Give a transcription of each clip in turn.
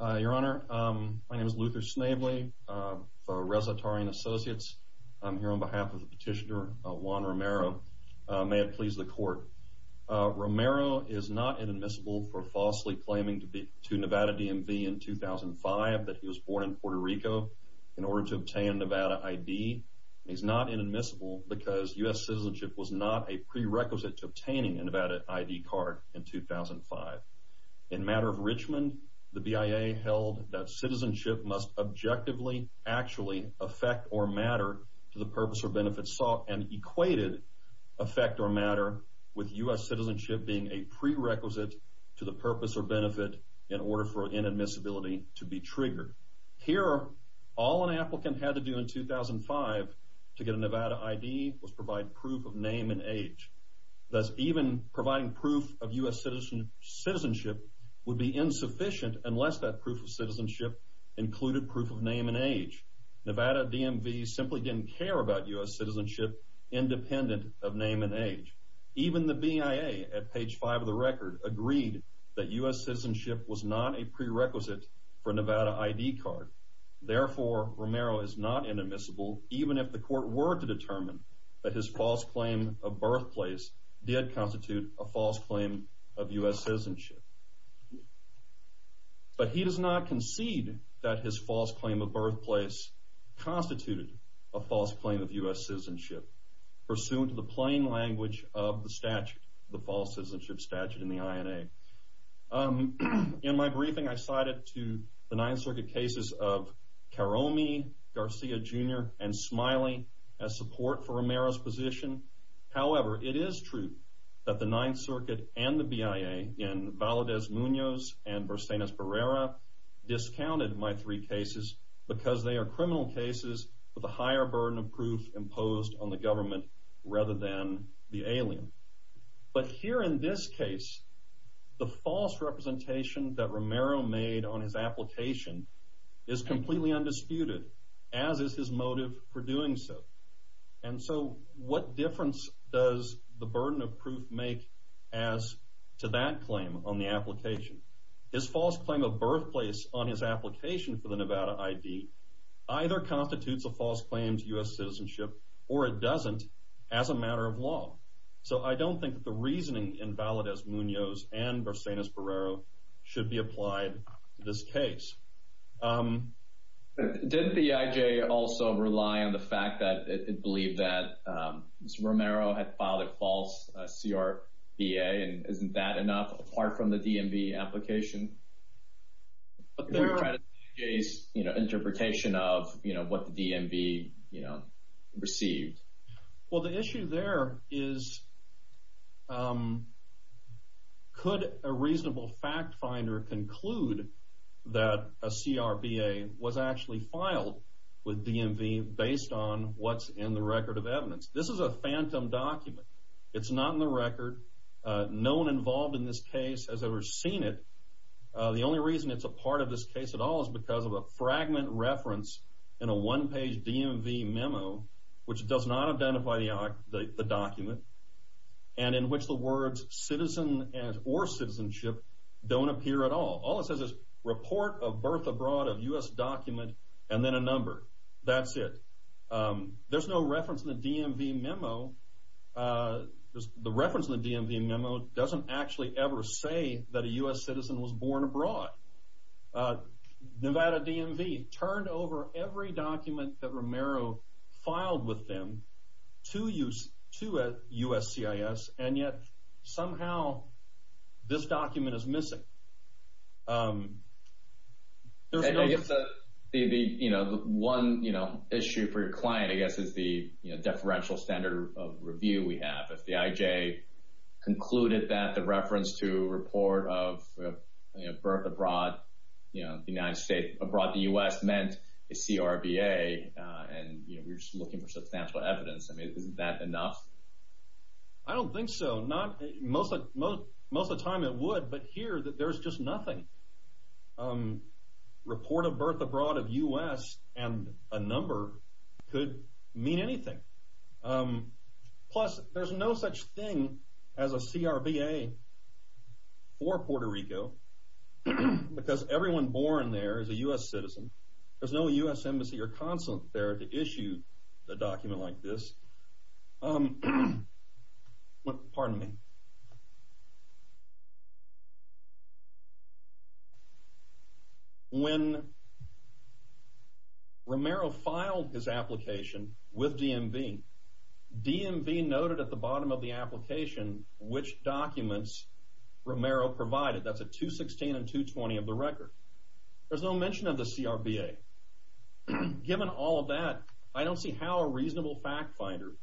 Your Honor, my name is Luther Snavely for Resa Taurine Associates. I'm here on behalf of the petitioner Juan Romero. May it please the court. Romero is not inadmissible for falsely claiming to be to Nevada DMV in 2005 that he was born in Puerto Rico in order to obtain Nevada ID. He's not inadmissible because U.S. citizenship was not a prerequisite to obtaining a Nevada ID card in 2005. In the matter of Richmond, the BIA held that citizenship must objectively, actually, affect or matter to the purpose or benefit sought and equated affect or matter with U.S. citizenship being a prerequisite to the purpose or benefit in order for inadmissibility to be triggered. Here, all an applicant had to do in 2005 to get a Nevada ID was provide proof of name and age. Thus, even providing proof of U.S. citizenship would be insufficient unless that proof of citizenship included proof of name and age. Nevada DMV simply didn't care about U.S. citizenship independent of name and age. Even the BIA at page 5 of the record agreed that U.S. citizenship was not a prerequisite for Nevada ID card. Therefore, Romero is not inadmissible even if the court were to determine that his false claim of birthplace did constitute a false claim of U.S. citizenship. But he does not concede that his false claim of birthplace constituted a false claim of U.S. citizenship pursuant to the plain language of the statute, the false citizenship statute in the INA. In my briefing, I cited to the Ninth Circuit cases of Karomi, Garcia, Jr. and Smiley as support for Romero's position. However, it is true that the Ninth Circuit and the BIA in Valadez-Muñoz and Verstaines-Berrera discounted my three cases because they are criminal cases with a higher burden of proof imposed on the government rather than the alien. But here in this case, the false representation that Romero made on his application is completely undisputed, as is his motive for doing so. And so, what difference does the burden of proof make as to that claim on the application? His false claim of birthplace on his application for the Nevada ID either constitutes a false claim to U.S. citizenship or it doesn't as a matter of law. So, I don't think that the reasoning in Valadez-Muñoz and on the fact that it believed that Romero had filed a false CRBA and isn't that enough apart from the DMV application? But there is an interpretation of, you know, what the DMV, you know, received. Well, the issue there is could a reasonable fact finder conclude that a in the record of evidence? This is a phantom document. It's not in the record. No one involved in this case has ever seen it. The only reason it's a part of this case at all is because of a fragment reference in a one-page DMV memo, which does not identify the document, and in which the words citizen or citizenship don't appear at all. All it says is, report of birth abroad of U.S. document and then a number. That's it. There's no reference in the DMV memo. The reference in the DMV memo doesn't actually ever say that a U.S. citizen was born abroad. Nevada DMV turned over every document that Romero filed with him to USCIS, and yet somehow this document is missing. I guess the, you know, one issue for your client, I guess, is the deferential standard of review we have. If the IJ concluded that the reference to report of birth abroad, you know, the United States, abroad the U.S. meant a CRBA, and, you know, we were just looking for substantial evidence. I mean, isn't that enough? I don't think so. Most of the time it would, but here there's just nothing. Report of birth abroad of U.S. and a number could mean anything. Plus, there's no such thing as a CRBA for Puerto Rico because everyone born there is a U.S. citizen. There's no U.S. embassy or consulate there to issue a document like this. Pardon me. When Romero filed his application with DMV, DMV noted at the bottom of the application which documents Romero provided. That's a 216 and 220 of the CRBA. Given all of that, I don't see how a reasonable fact finder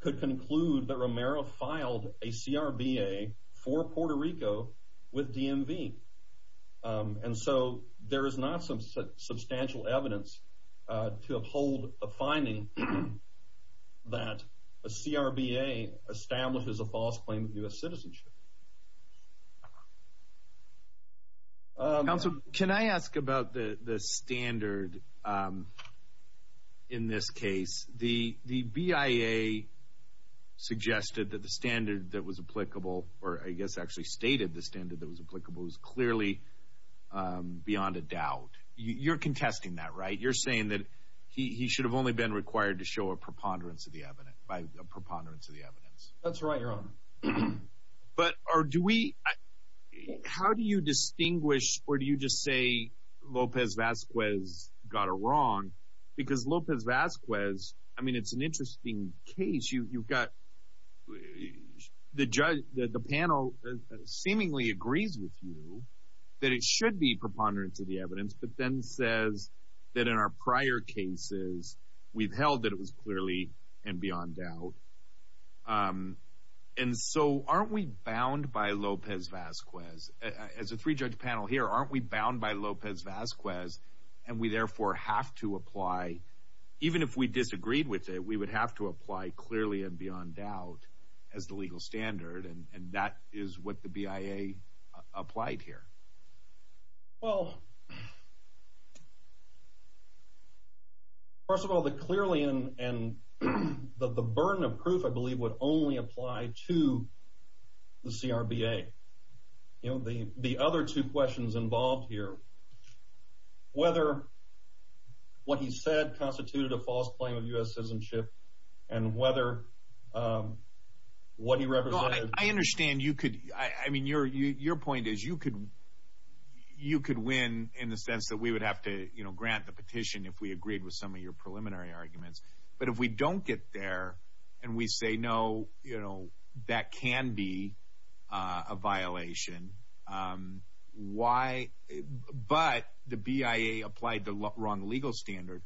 could conclude that Romero filed a CRBA for Puerto Rico with DMV. And so, there is not some substantial evidence to uphold the finding that a CRBA establishes a false claim of U.S. citizenship. Counsel, can I ask about the standard in this case? The BIA suggested that the standard that was applicable, or I guess actually stated the standard that was applicable, was clearly beyond a doubt. You're contesting that, right? You're saying that he should have only been required to show a preponderance of the evidence. But how do you distinguish, or do you just say Lopez Vazquez got it wrong? Because Lopez Vazquez, I mean, it's an interesting case. The panel seemingly agrees with you that it should be preponderance of the evidence, but then says that in our prior cases, we've held that it was clearly and beyond doubt. And so, aren't we bound by Lopez Vazquez? As a three-judge panel here, aren't we bound by Lopez Vazquez, and we therefore have to apply, even if we disagreed with it, we would have to apply clearly and beyond doubt as the legal standard, and that is what the BIA applied here. Well, first of all, the clearly and the burden of proof, I believe, would only apply to the CRBA. The other two questions involved here, whether what he said constituted a false claim of U.S. citizenship, and whether what he said was true. So, if you could win in the sense that we would have to grant the petition if we agreed with some of your preliminary arguments, but if we don't get there, and we say, no, that can be a violation, but the BIA applied the wrong legal standard,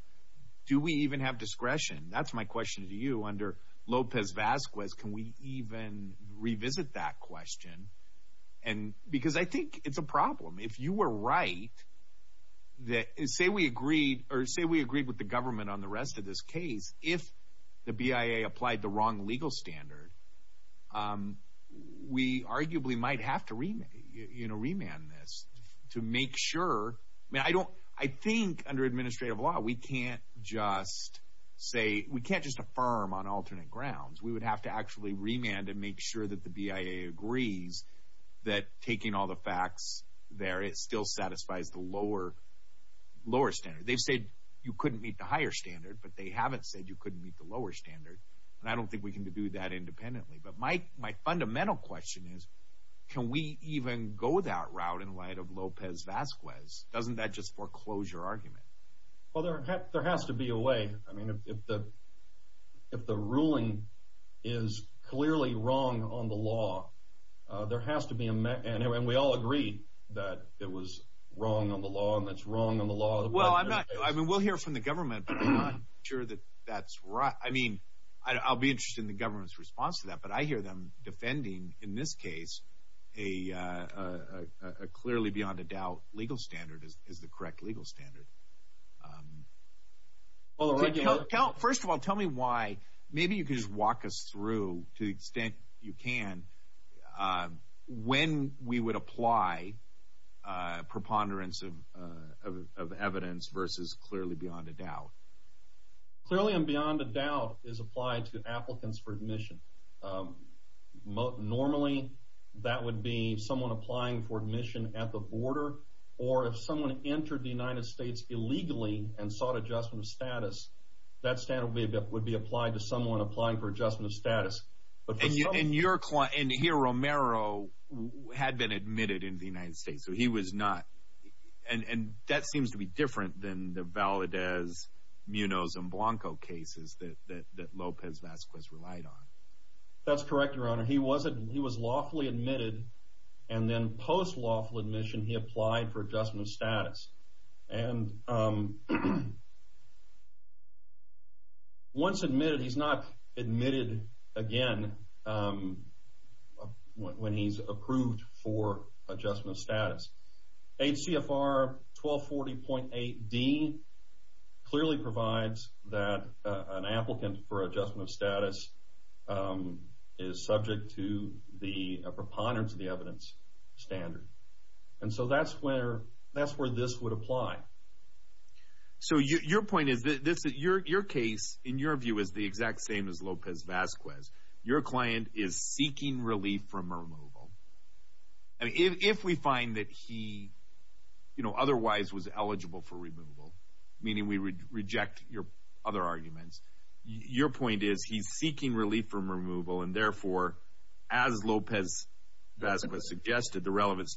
do we even have discretion? That's my question to you under Lopez Vazquez, can we even revisit that question? Because I think it's a problem. If you were right, say we agreed with the government on the rest of this case, if the BIA applied the wrong legal standard, we arguably might have to remand this to make sure. I think under administrative law, we can't just affirm on alternate grounds. We would have to actually remand and make sure that the BIA agrees that taking all the facts there, it still satisfies the lower standard. They've said you couldn't meet the higher standard, but they haven't said you couldn't meet the lower standard, and I don't think we can do that independently. But my fundamental question is, can we even go that route in light of Lopez Vazquez? Doesn't that just foreclose your argument? Well, there has to be a way. I mean, if the ruling is clearly wrong on the law, there has to be, and we all agree that it was wrong on the law, and that's wrong on the law. Well, I mean, we'll hear from the government, but I'm not sure that that's right. I mean, I'll be interested in the government's response to that, but I hear them defending, in this case, a clearly beyond a doubt legal standard as the correct legal standard. First of all, tell me why, maybe you could just walk us through, to the extent you can, when we would apply preponderance of evidence versus clearly beyond a doubt. Clearly and beyond a doubt is applied to applicants for admission. Normally, that would be someone applying for admission at the border, or if someone entered the United States illegally and sought adjustment of status, that standard would be applied to someone applying for adjustment of status. And here, Romero had been admitted in the United States, so he was not, and that seems to be different than the Valadez, Munoz, and Blanco cases that Lopez Vazquez relied on. That's correct, Your Honor. He was lawfully admitted, and then was admitted, he's not admitted again when he's approved for adjustment of status. HCFR 1240.8D clearly provides that an applicant for adjustment of status is subject to the preponderance of the evidence standard. And so, that's where, that's where this would apply. So, your point is, your case, in your view, is the exact same as Lopez Vazquez. Your client is seeking relief from removal. I mean, if we find that he, you know, otherwise was eligible for removal, meaning we reject your other arguments, your point is he's seeking relief from removal, and therefore, as Lopez Vazquez suggested, the relevant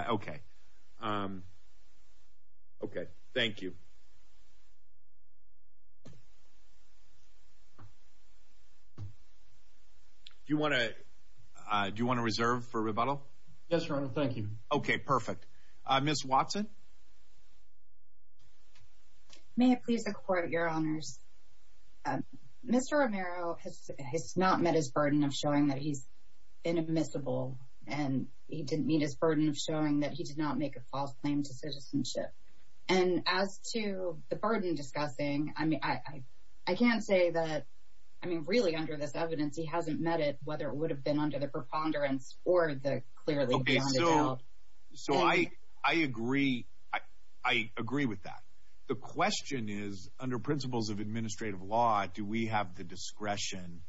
Okay. Okay, thank you. Do you want to, do you want to reserve for rebuttal? Yes, Your Honor, thank you. Okay, perfect. Ms. Watson? May it please the Court, Your Honors. Mr. Romero has not met his burden of showing that he's inadmissible, and he didn't meet his burden of showing that he did not make a false claim to citizenship. And as to the burden discussing, I mean, I can't say that, I mean, really under this evidence, he hasn't met it, whether it would have been under the preponderance or the clearly beyond a doubt. Okay, so, so I, I agree, I agree with that. The question is, under principles of administrative law, do we have the discretion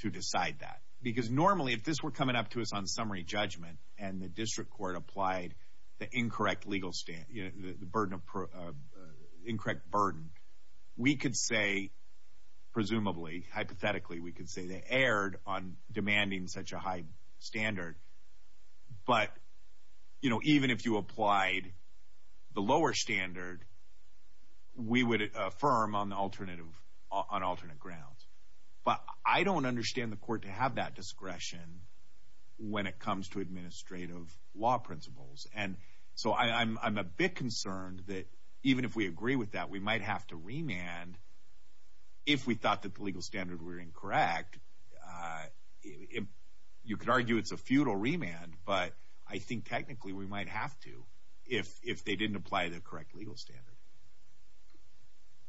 to decide that? Because normally, if this were coming up to us on summary judgment, and the district court applied the incorrect legal stand, you know, the burden of, incorrect burden, we could say, presumably, hypothetically, we could say they erred on demanding such a high standard. But, you know, even if you applied the lower standard, we would affirm on the alternative, on alternate grounds. But I don't understand the court to have that discretion when it comes to administrative law principles. And so I'm, I'm a bit concerned that even if we agree with that, we might have to remand if we thought that the legal standard were incorrect. You could argue it's a futile remand, but I think technically we might have to, if, if they didn't apply the correct legal standard.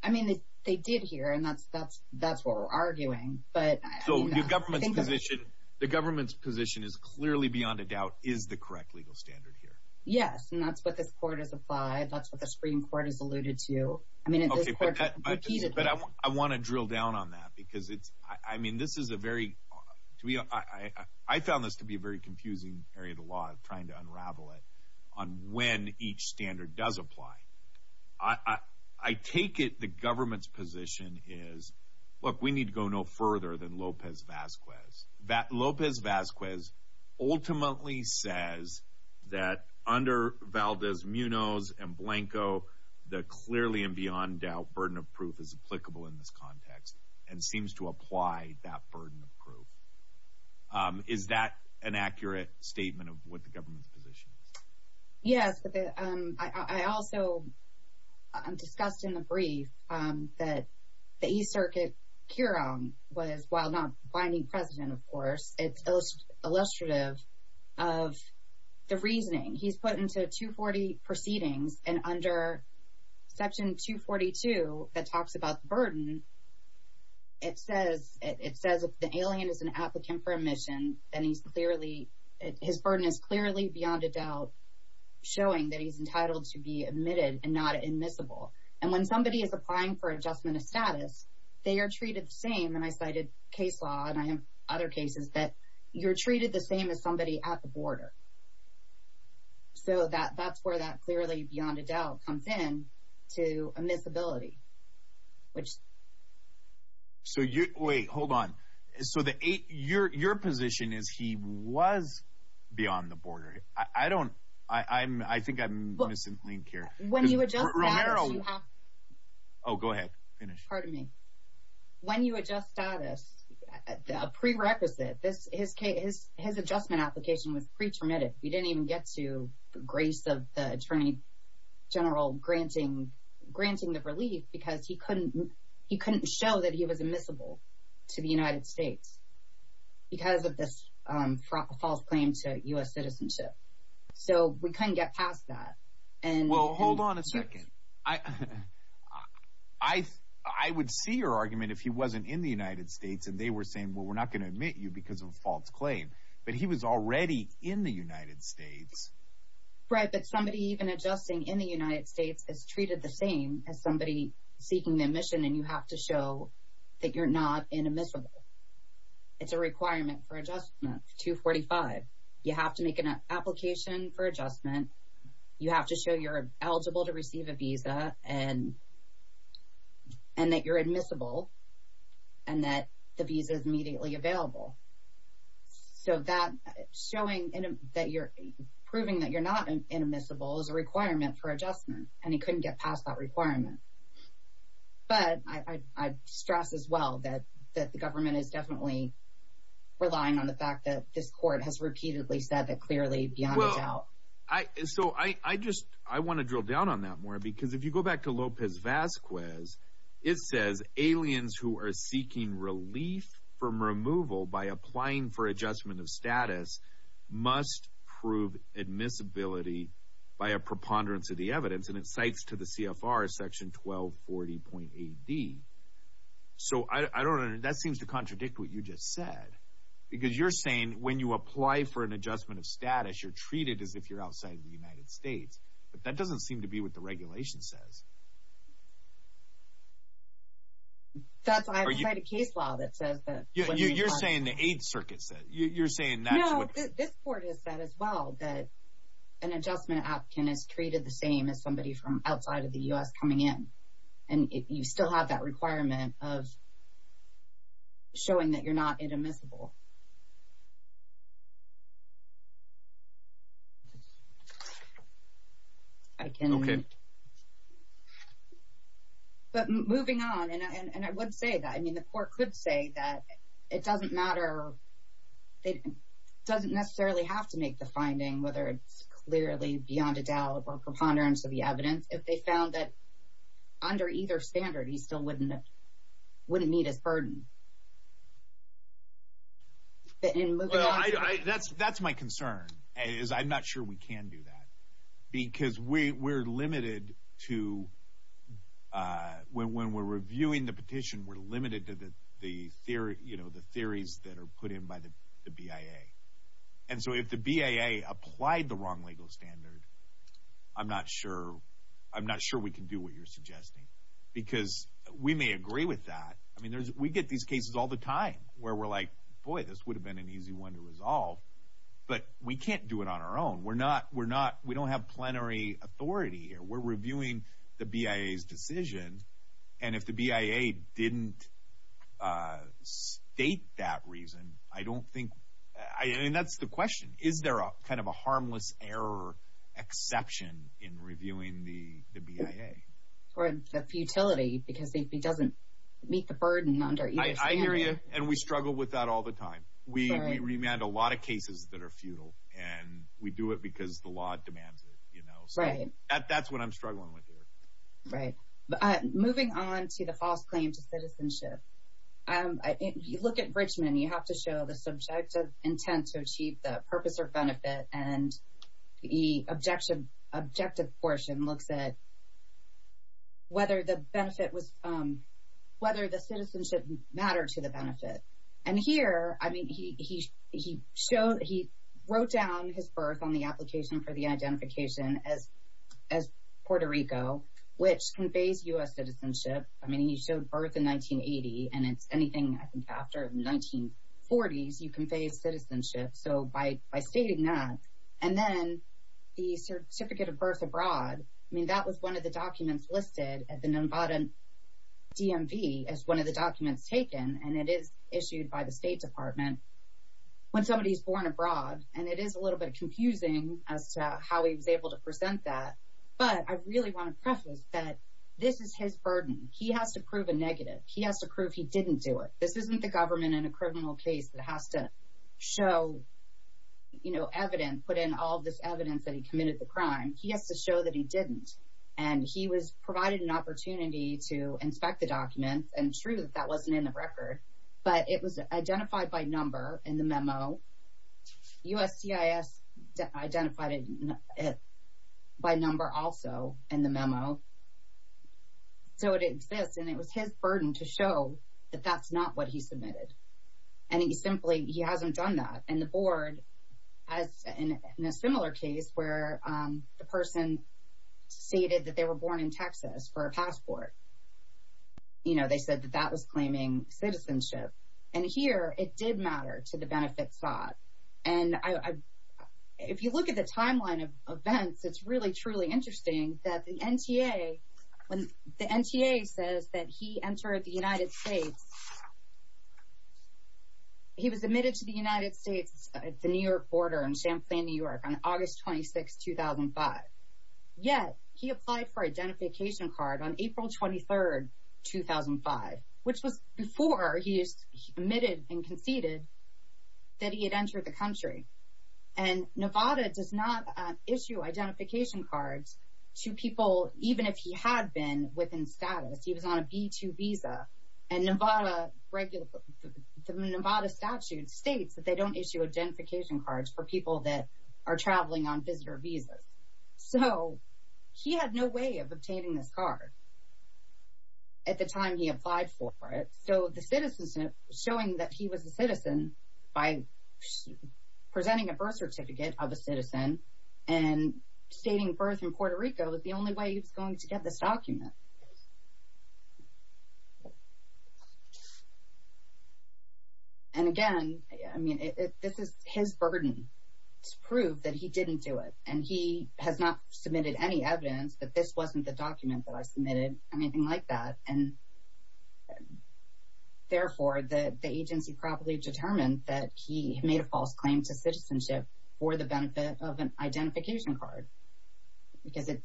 I mean, they, they did here, and that's, that's, that's what we're arguing. But, So, the government's position, the government's position is clearly beyond a doubt, is the correct legal standard here. Yes, and that's what this court has applied, that's what the Supreme Court has alluded to. I mean, it's, but I want to drill down on that, because it's, I mean, this is a very, to me, I, I found this to be a very confusing area of the law, trying to unravel it, on when each standard does apply. I, I, I take it the government's position is, look, we need to go no further than Lopez Vazquez. That, Lopez Vazquez ultimately says that under Valdez, Munoz, and Blanco, the clearly and beyond doubt burden of proof is applicable in this context, and seems to apply that burden of proof. Is that an accurate statement of what the government's position is? Yes, but the, I, I also, I'm discussed in the brief, that the East Circuit Curon was, while not binding precedent, of course, it's illustrative of the reasoning. He's put into 240 proceedings, and under section 242, that talks about the burden, it says, it says the alien is an applicant for admission, and he's clearly, his burden is clearly beyond a doubt, showing that he's entitled to be admitted, and not admissible. And when somebody is applying for adjustment of status, they are treated the same, and I cited case law, and I have other cases, that you're treated the same as somebody at the border. So that, that's where that clearly beyond a doubt comes in, to admissibility, which. So you, wait, hold on. So the, your, your position is he was beyond the border. I, I don't, I, I'm, I think I'm missing the link here. When you adjust status, you have. Oh, go ahead, finish. Pardon me. When you adjust status, a prerequisite, this, his case, his, his adjustment application was pre-termitted. We didn't even get to the grace of the Attorney General granting, granting the relief, because he couldn't, he couldn't show that he was admissible to the United States, because of this false claim to U.S. citizenship. So we couldn't get past that, and. Well, hold on a second. I, I, I would see your argument if he wasn't in the United States, and they were saying, well, we're not going to admit you because of a false claim, but he was already in the United States. Right, but somebody even adjusting in the United States is treated the same as somebody seeking the admission, and you have to show that you're not inadmissible. It's a requirement for adjustment, 245. You have to make an application for adjustment. You have to show you're eligible to receive a visa, and, and that you're admissible, and that the visa is showing that you're, proving that you're not inadmissible is a requirement for adjustment, and he couldn't get past that requirement. But I, I, I stress as well that, that the government is definitely relying on the fact that this court has repeatedly said that clearly beyond a doubt. Well, I, so I, I just, I want to drill down on that more, because if you go back to Lopez-Vasquez, it says aliens who are seeking relief from removal by applying for adjustment of status must prove admissibility by a preponderance of the evidence, and it cites to the CFR section 1240.AD. So I, I don't, that seems to contradict what you just said, because you're saying when you apply for an adjustment of status, you're treated as if you're outside of the United States, but that doesn't seem to be what the That's, I have to cite a case law that says that. You, you're saying the Eighth Circuit said, you, you're saying that's what. No, this, this court has said as well that an adjustment applicant is treated the same as somebody from outside of the U.S. coming in, and you still have that requirement of showing that you're not admissible. I can. Okay. But moving on, and I, and I would say that, I mean, the court could say that it doesn't matter, it doesn't necessarily have to make the finding, whether it's clearly beyond a doubt or preponderance of the evidence, if they found that under either standard, he still wouldn't, wouldn't meet his burden. Well, I, I, that's, that's my concern, is I'm not sure we can do that, because we, we're limited to, when, when we're reviewing the petition, we're limited to the, the theory, you know, the theories that are put in by the, the BIA. And so if the BIA applied the wrong legal standard, I'm not sure, I'm not sure we can do what you're suggesting, because we may agree with that. I mean, there's, we get these cases all the time, where we're like, boy, this would have been an easy one to resolve, but we can't do it on our own. We're not, we're not, we don't have plenary authority here. We're reviewing the BIA's decision, and if the BIA didn't state that reason, I don't think, I, I mean, that's the BIA. Or the futility, because if he doesn't meet the burden under either standard. I, I hear you, and we struggle with that all the time. We, we remand a lot of cases that are futile, and we do it because the law demands it, you know. Right. So, that, that's what I'm struggling with here. Right. Moving on to the false claim to citizenship, I, you look at Richmond, you have to show the subjective intent to achieve the purpose or benefit, and the objection, objective portion looks at whether the benefit was, whether the citizenship mattered to the benefit. And here, I mean, he, he, he showed, he wrote down his birth on the application for the identification as, as Puerto Rico, which conveys U.S. citizenship. I mean, he showed birth in 1980, and it's anything, I think, after 1940s, you convey citizenship. So, by, by stating that, and then the certificate of birth abroad, I mean, that was one of the documents listed at the Numbadan DMV as one of the documents taken, and it is issued by the State Department when somebody's born abroad. And it is a little bit confusing as to how he was able to present that, but I really want to preface that this is his burden. He has to prove a negative. He has to prove he didn't do it. This isn't the government in a criminal case that has to show, you know, evidence, put in all this evidence that he committed the crime. He has to show that he didn't. And he was provided an opportunity to inspect the document, and true, that that wasn't in the record, but it was identified by number in the memo. USCIS identified it by number also in the memo. So, it exists, and it was his burden to show that that's not what he submitted. And he simply, he hasn't done that. And the board, as in a similar case where the person stated that they were born in Texas for a passport, you know, they said that that was claiming citizenship. And here, it did matter to the benefit sought. And I, if you look at the timeline of events, it's really, truly interesting that the NTA, when the NTA says that he entered the United States, he was admitted to the United States at the New York border in Champlain, New York on August 26, 2005. Yet, he applied for identification card on April 23, 2005, which was before he admitted and conceded that he had entered the country. And Nevada does not to people, even if he had been within status, he was on a B-2 visa, and Nevada regular, the Nevada statute states that they don't issue identification cards for people that are traveling on visitor visas. So, he had no way of obtaining this card at the time he applied for it. So, the citizenship, showing that he was a citizen by presenting a birth certificate of a citizen and stating birth in Puerto Rico is the only way he was going to get this document. And again, I mean, this is his burden to prove that he didn't do it. And he has not submitted any evidence that this wasn't the document that I submitted or anything like that. And therefore, the agency probably determined that he made a false claim to citizenship for the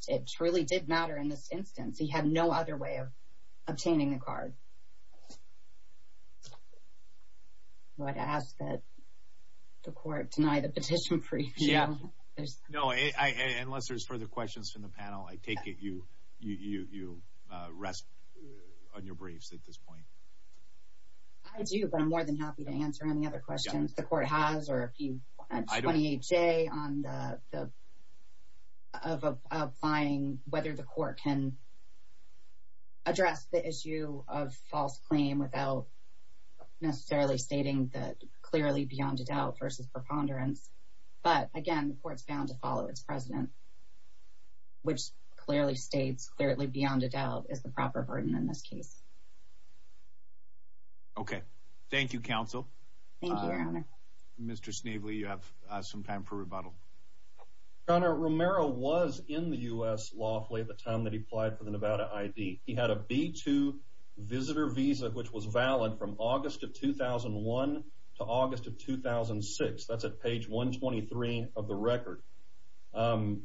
It truly did matter in this instance. He had no other way of obtaining the card. Do I ask that the court deny the petition for you? Yeah. No, unless there's further questions from the panel, I take it you rest on your briefs at this point. I do, but I'm more than happy to answer any other questions the court has or if you have 28-J on the, of applying whether the court can address the issue of false claim without necessarily stating that clearly beyond a doubt versus preponderance. But again, the court's bound to follow its president, which clearly states clearly beyond a doubt is the proper burden in this case. Okay. Thank you, Counsel. Mr. Snavely, you have some time for rebuttal. Your Honor, Romero was in the U.S. lawfully at the time that he applied for the Nevada ID. He had a B-2 visitor visa, which was valid from August of 2001 to August of 2006. That's at page 123 of the record. Homeland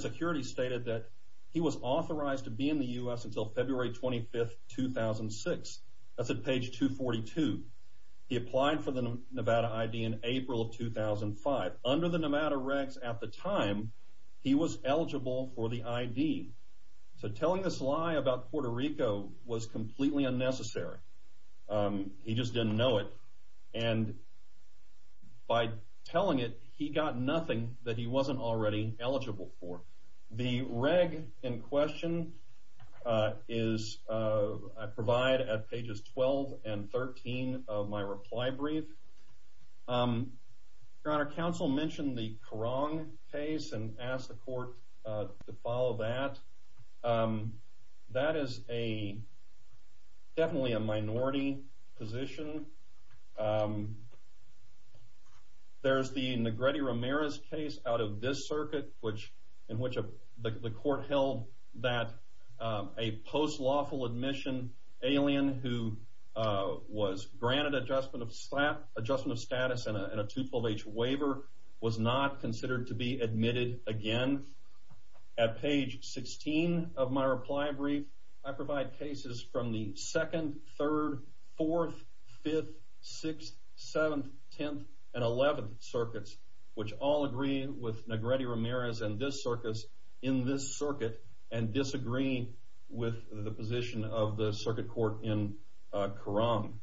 Security stated that he was authorized to apply on February 25, 2006. That's at page 242. He applied for the Nevada ID in April of 2005. Under the Nevada regs at the time, he was eligible for the ID. So telling this lie about Puerto Rico was completely unnecessary. He just didn't know it. And by telling it, he got nothing that he wasn't already eligible for. The reg in question is provided at pages 12 and 13 of my reply brief. Your Honor, Counsel mentioned the Korong case and asked the court to follow that. That is definitely a minority position. There's the Negrete Romero's case out of this circuit, in which the court held that a post-lawful admission alien who was granted adjustment of status and a 212H waiver was not considered to be admitted again. At page 16 of my reply brief, I provide cases from the 2nd, 3rd, 4th, 5th, 6th, 7th, 10th, and 11th circuits, which all agree with Negrete Romero's in this circuit and disagree with the position of the circuit court in Korong.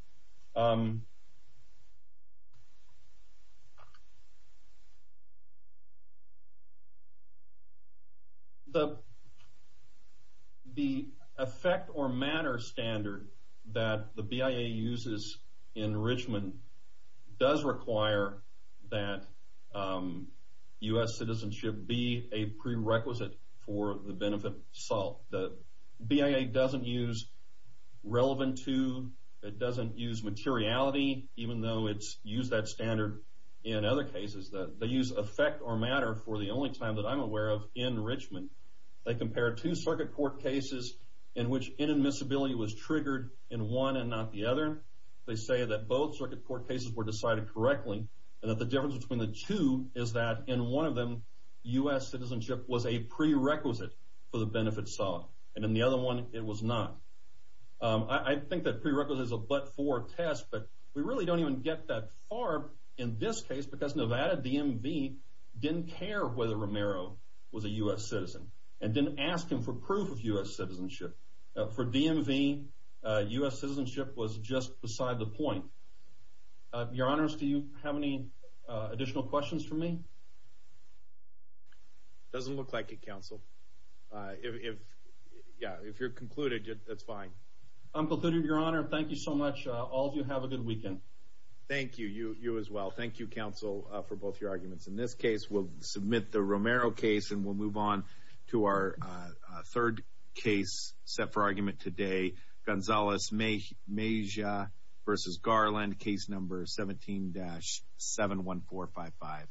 The effect or matter standard that the BIA uses in Richmond does require that U.S. citizenship be a prerequisite for the benefit of SALT. The BIA doesn't use relevant to, it doesn't use materiality, even though it's used that standard in other cases. They use effect or matter for the only time that I'm aware of in Richmond. They compare two circuit court cases in which inadmissibility was triggered in one and not the other. They say that both circuit court cases were decided correctly and that the difference between the two is that in one of them, U.S. citizenship was a prerequisite for the benefit of SALT, and in the other one, it was not. I think that prerequisite is a but-for test, but we really don't even get that far in this case, because Nevada DMV didn't care whether Romero was a U.S. citizen and didn't ask him for proof of U.S. citizenship. For DMV, U.S. citizenship was just beside the point. Your Honors, do you have any additional questions for me? It doesn't look like it, Counsel. If you're concluded, that's fine. I'm concluded, Your Honor. Thank you so much. All of you have a good weekend. Thank you. You as well. Thank you, Counsel, for both your arguments. In this case, we'll submit the Romero case, and we'll move on to our third case set for argument today, Gonzalez Mejia v. Garland, Case No. 17-71455.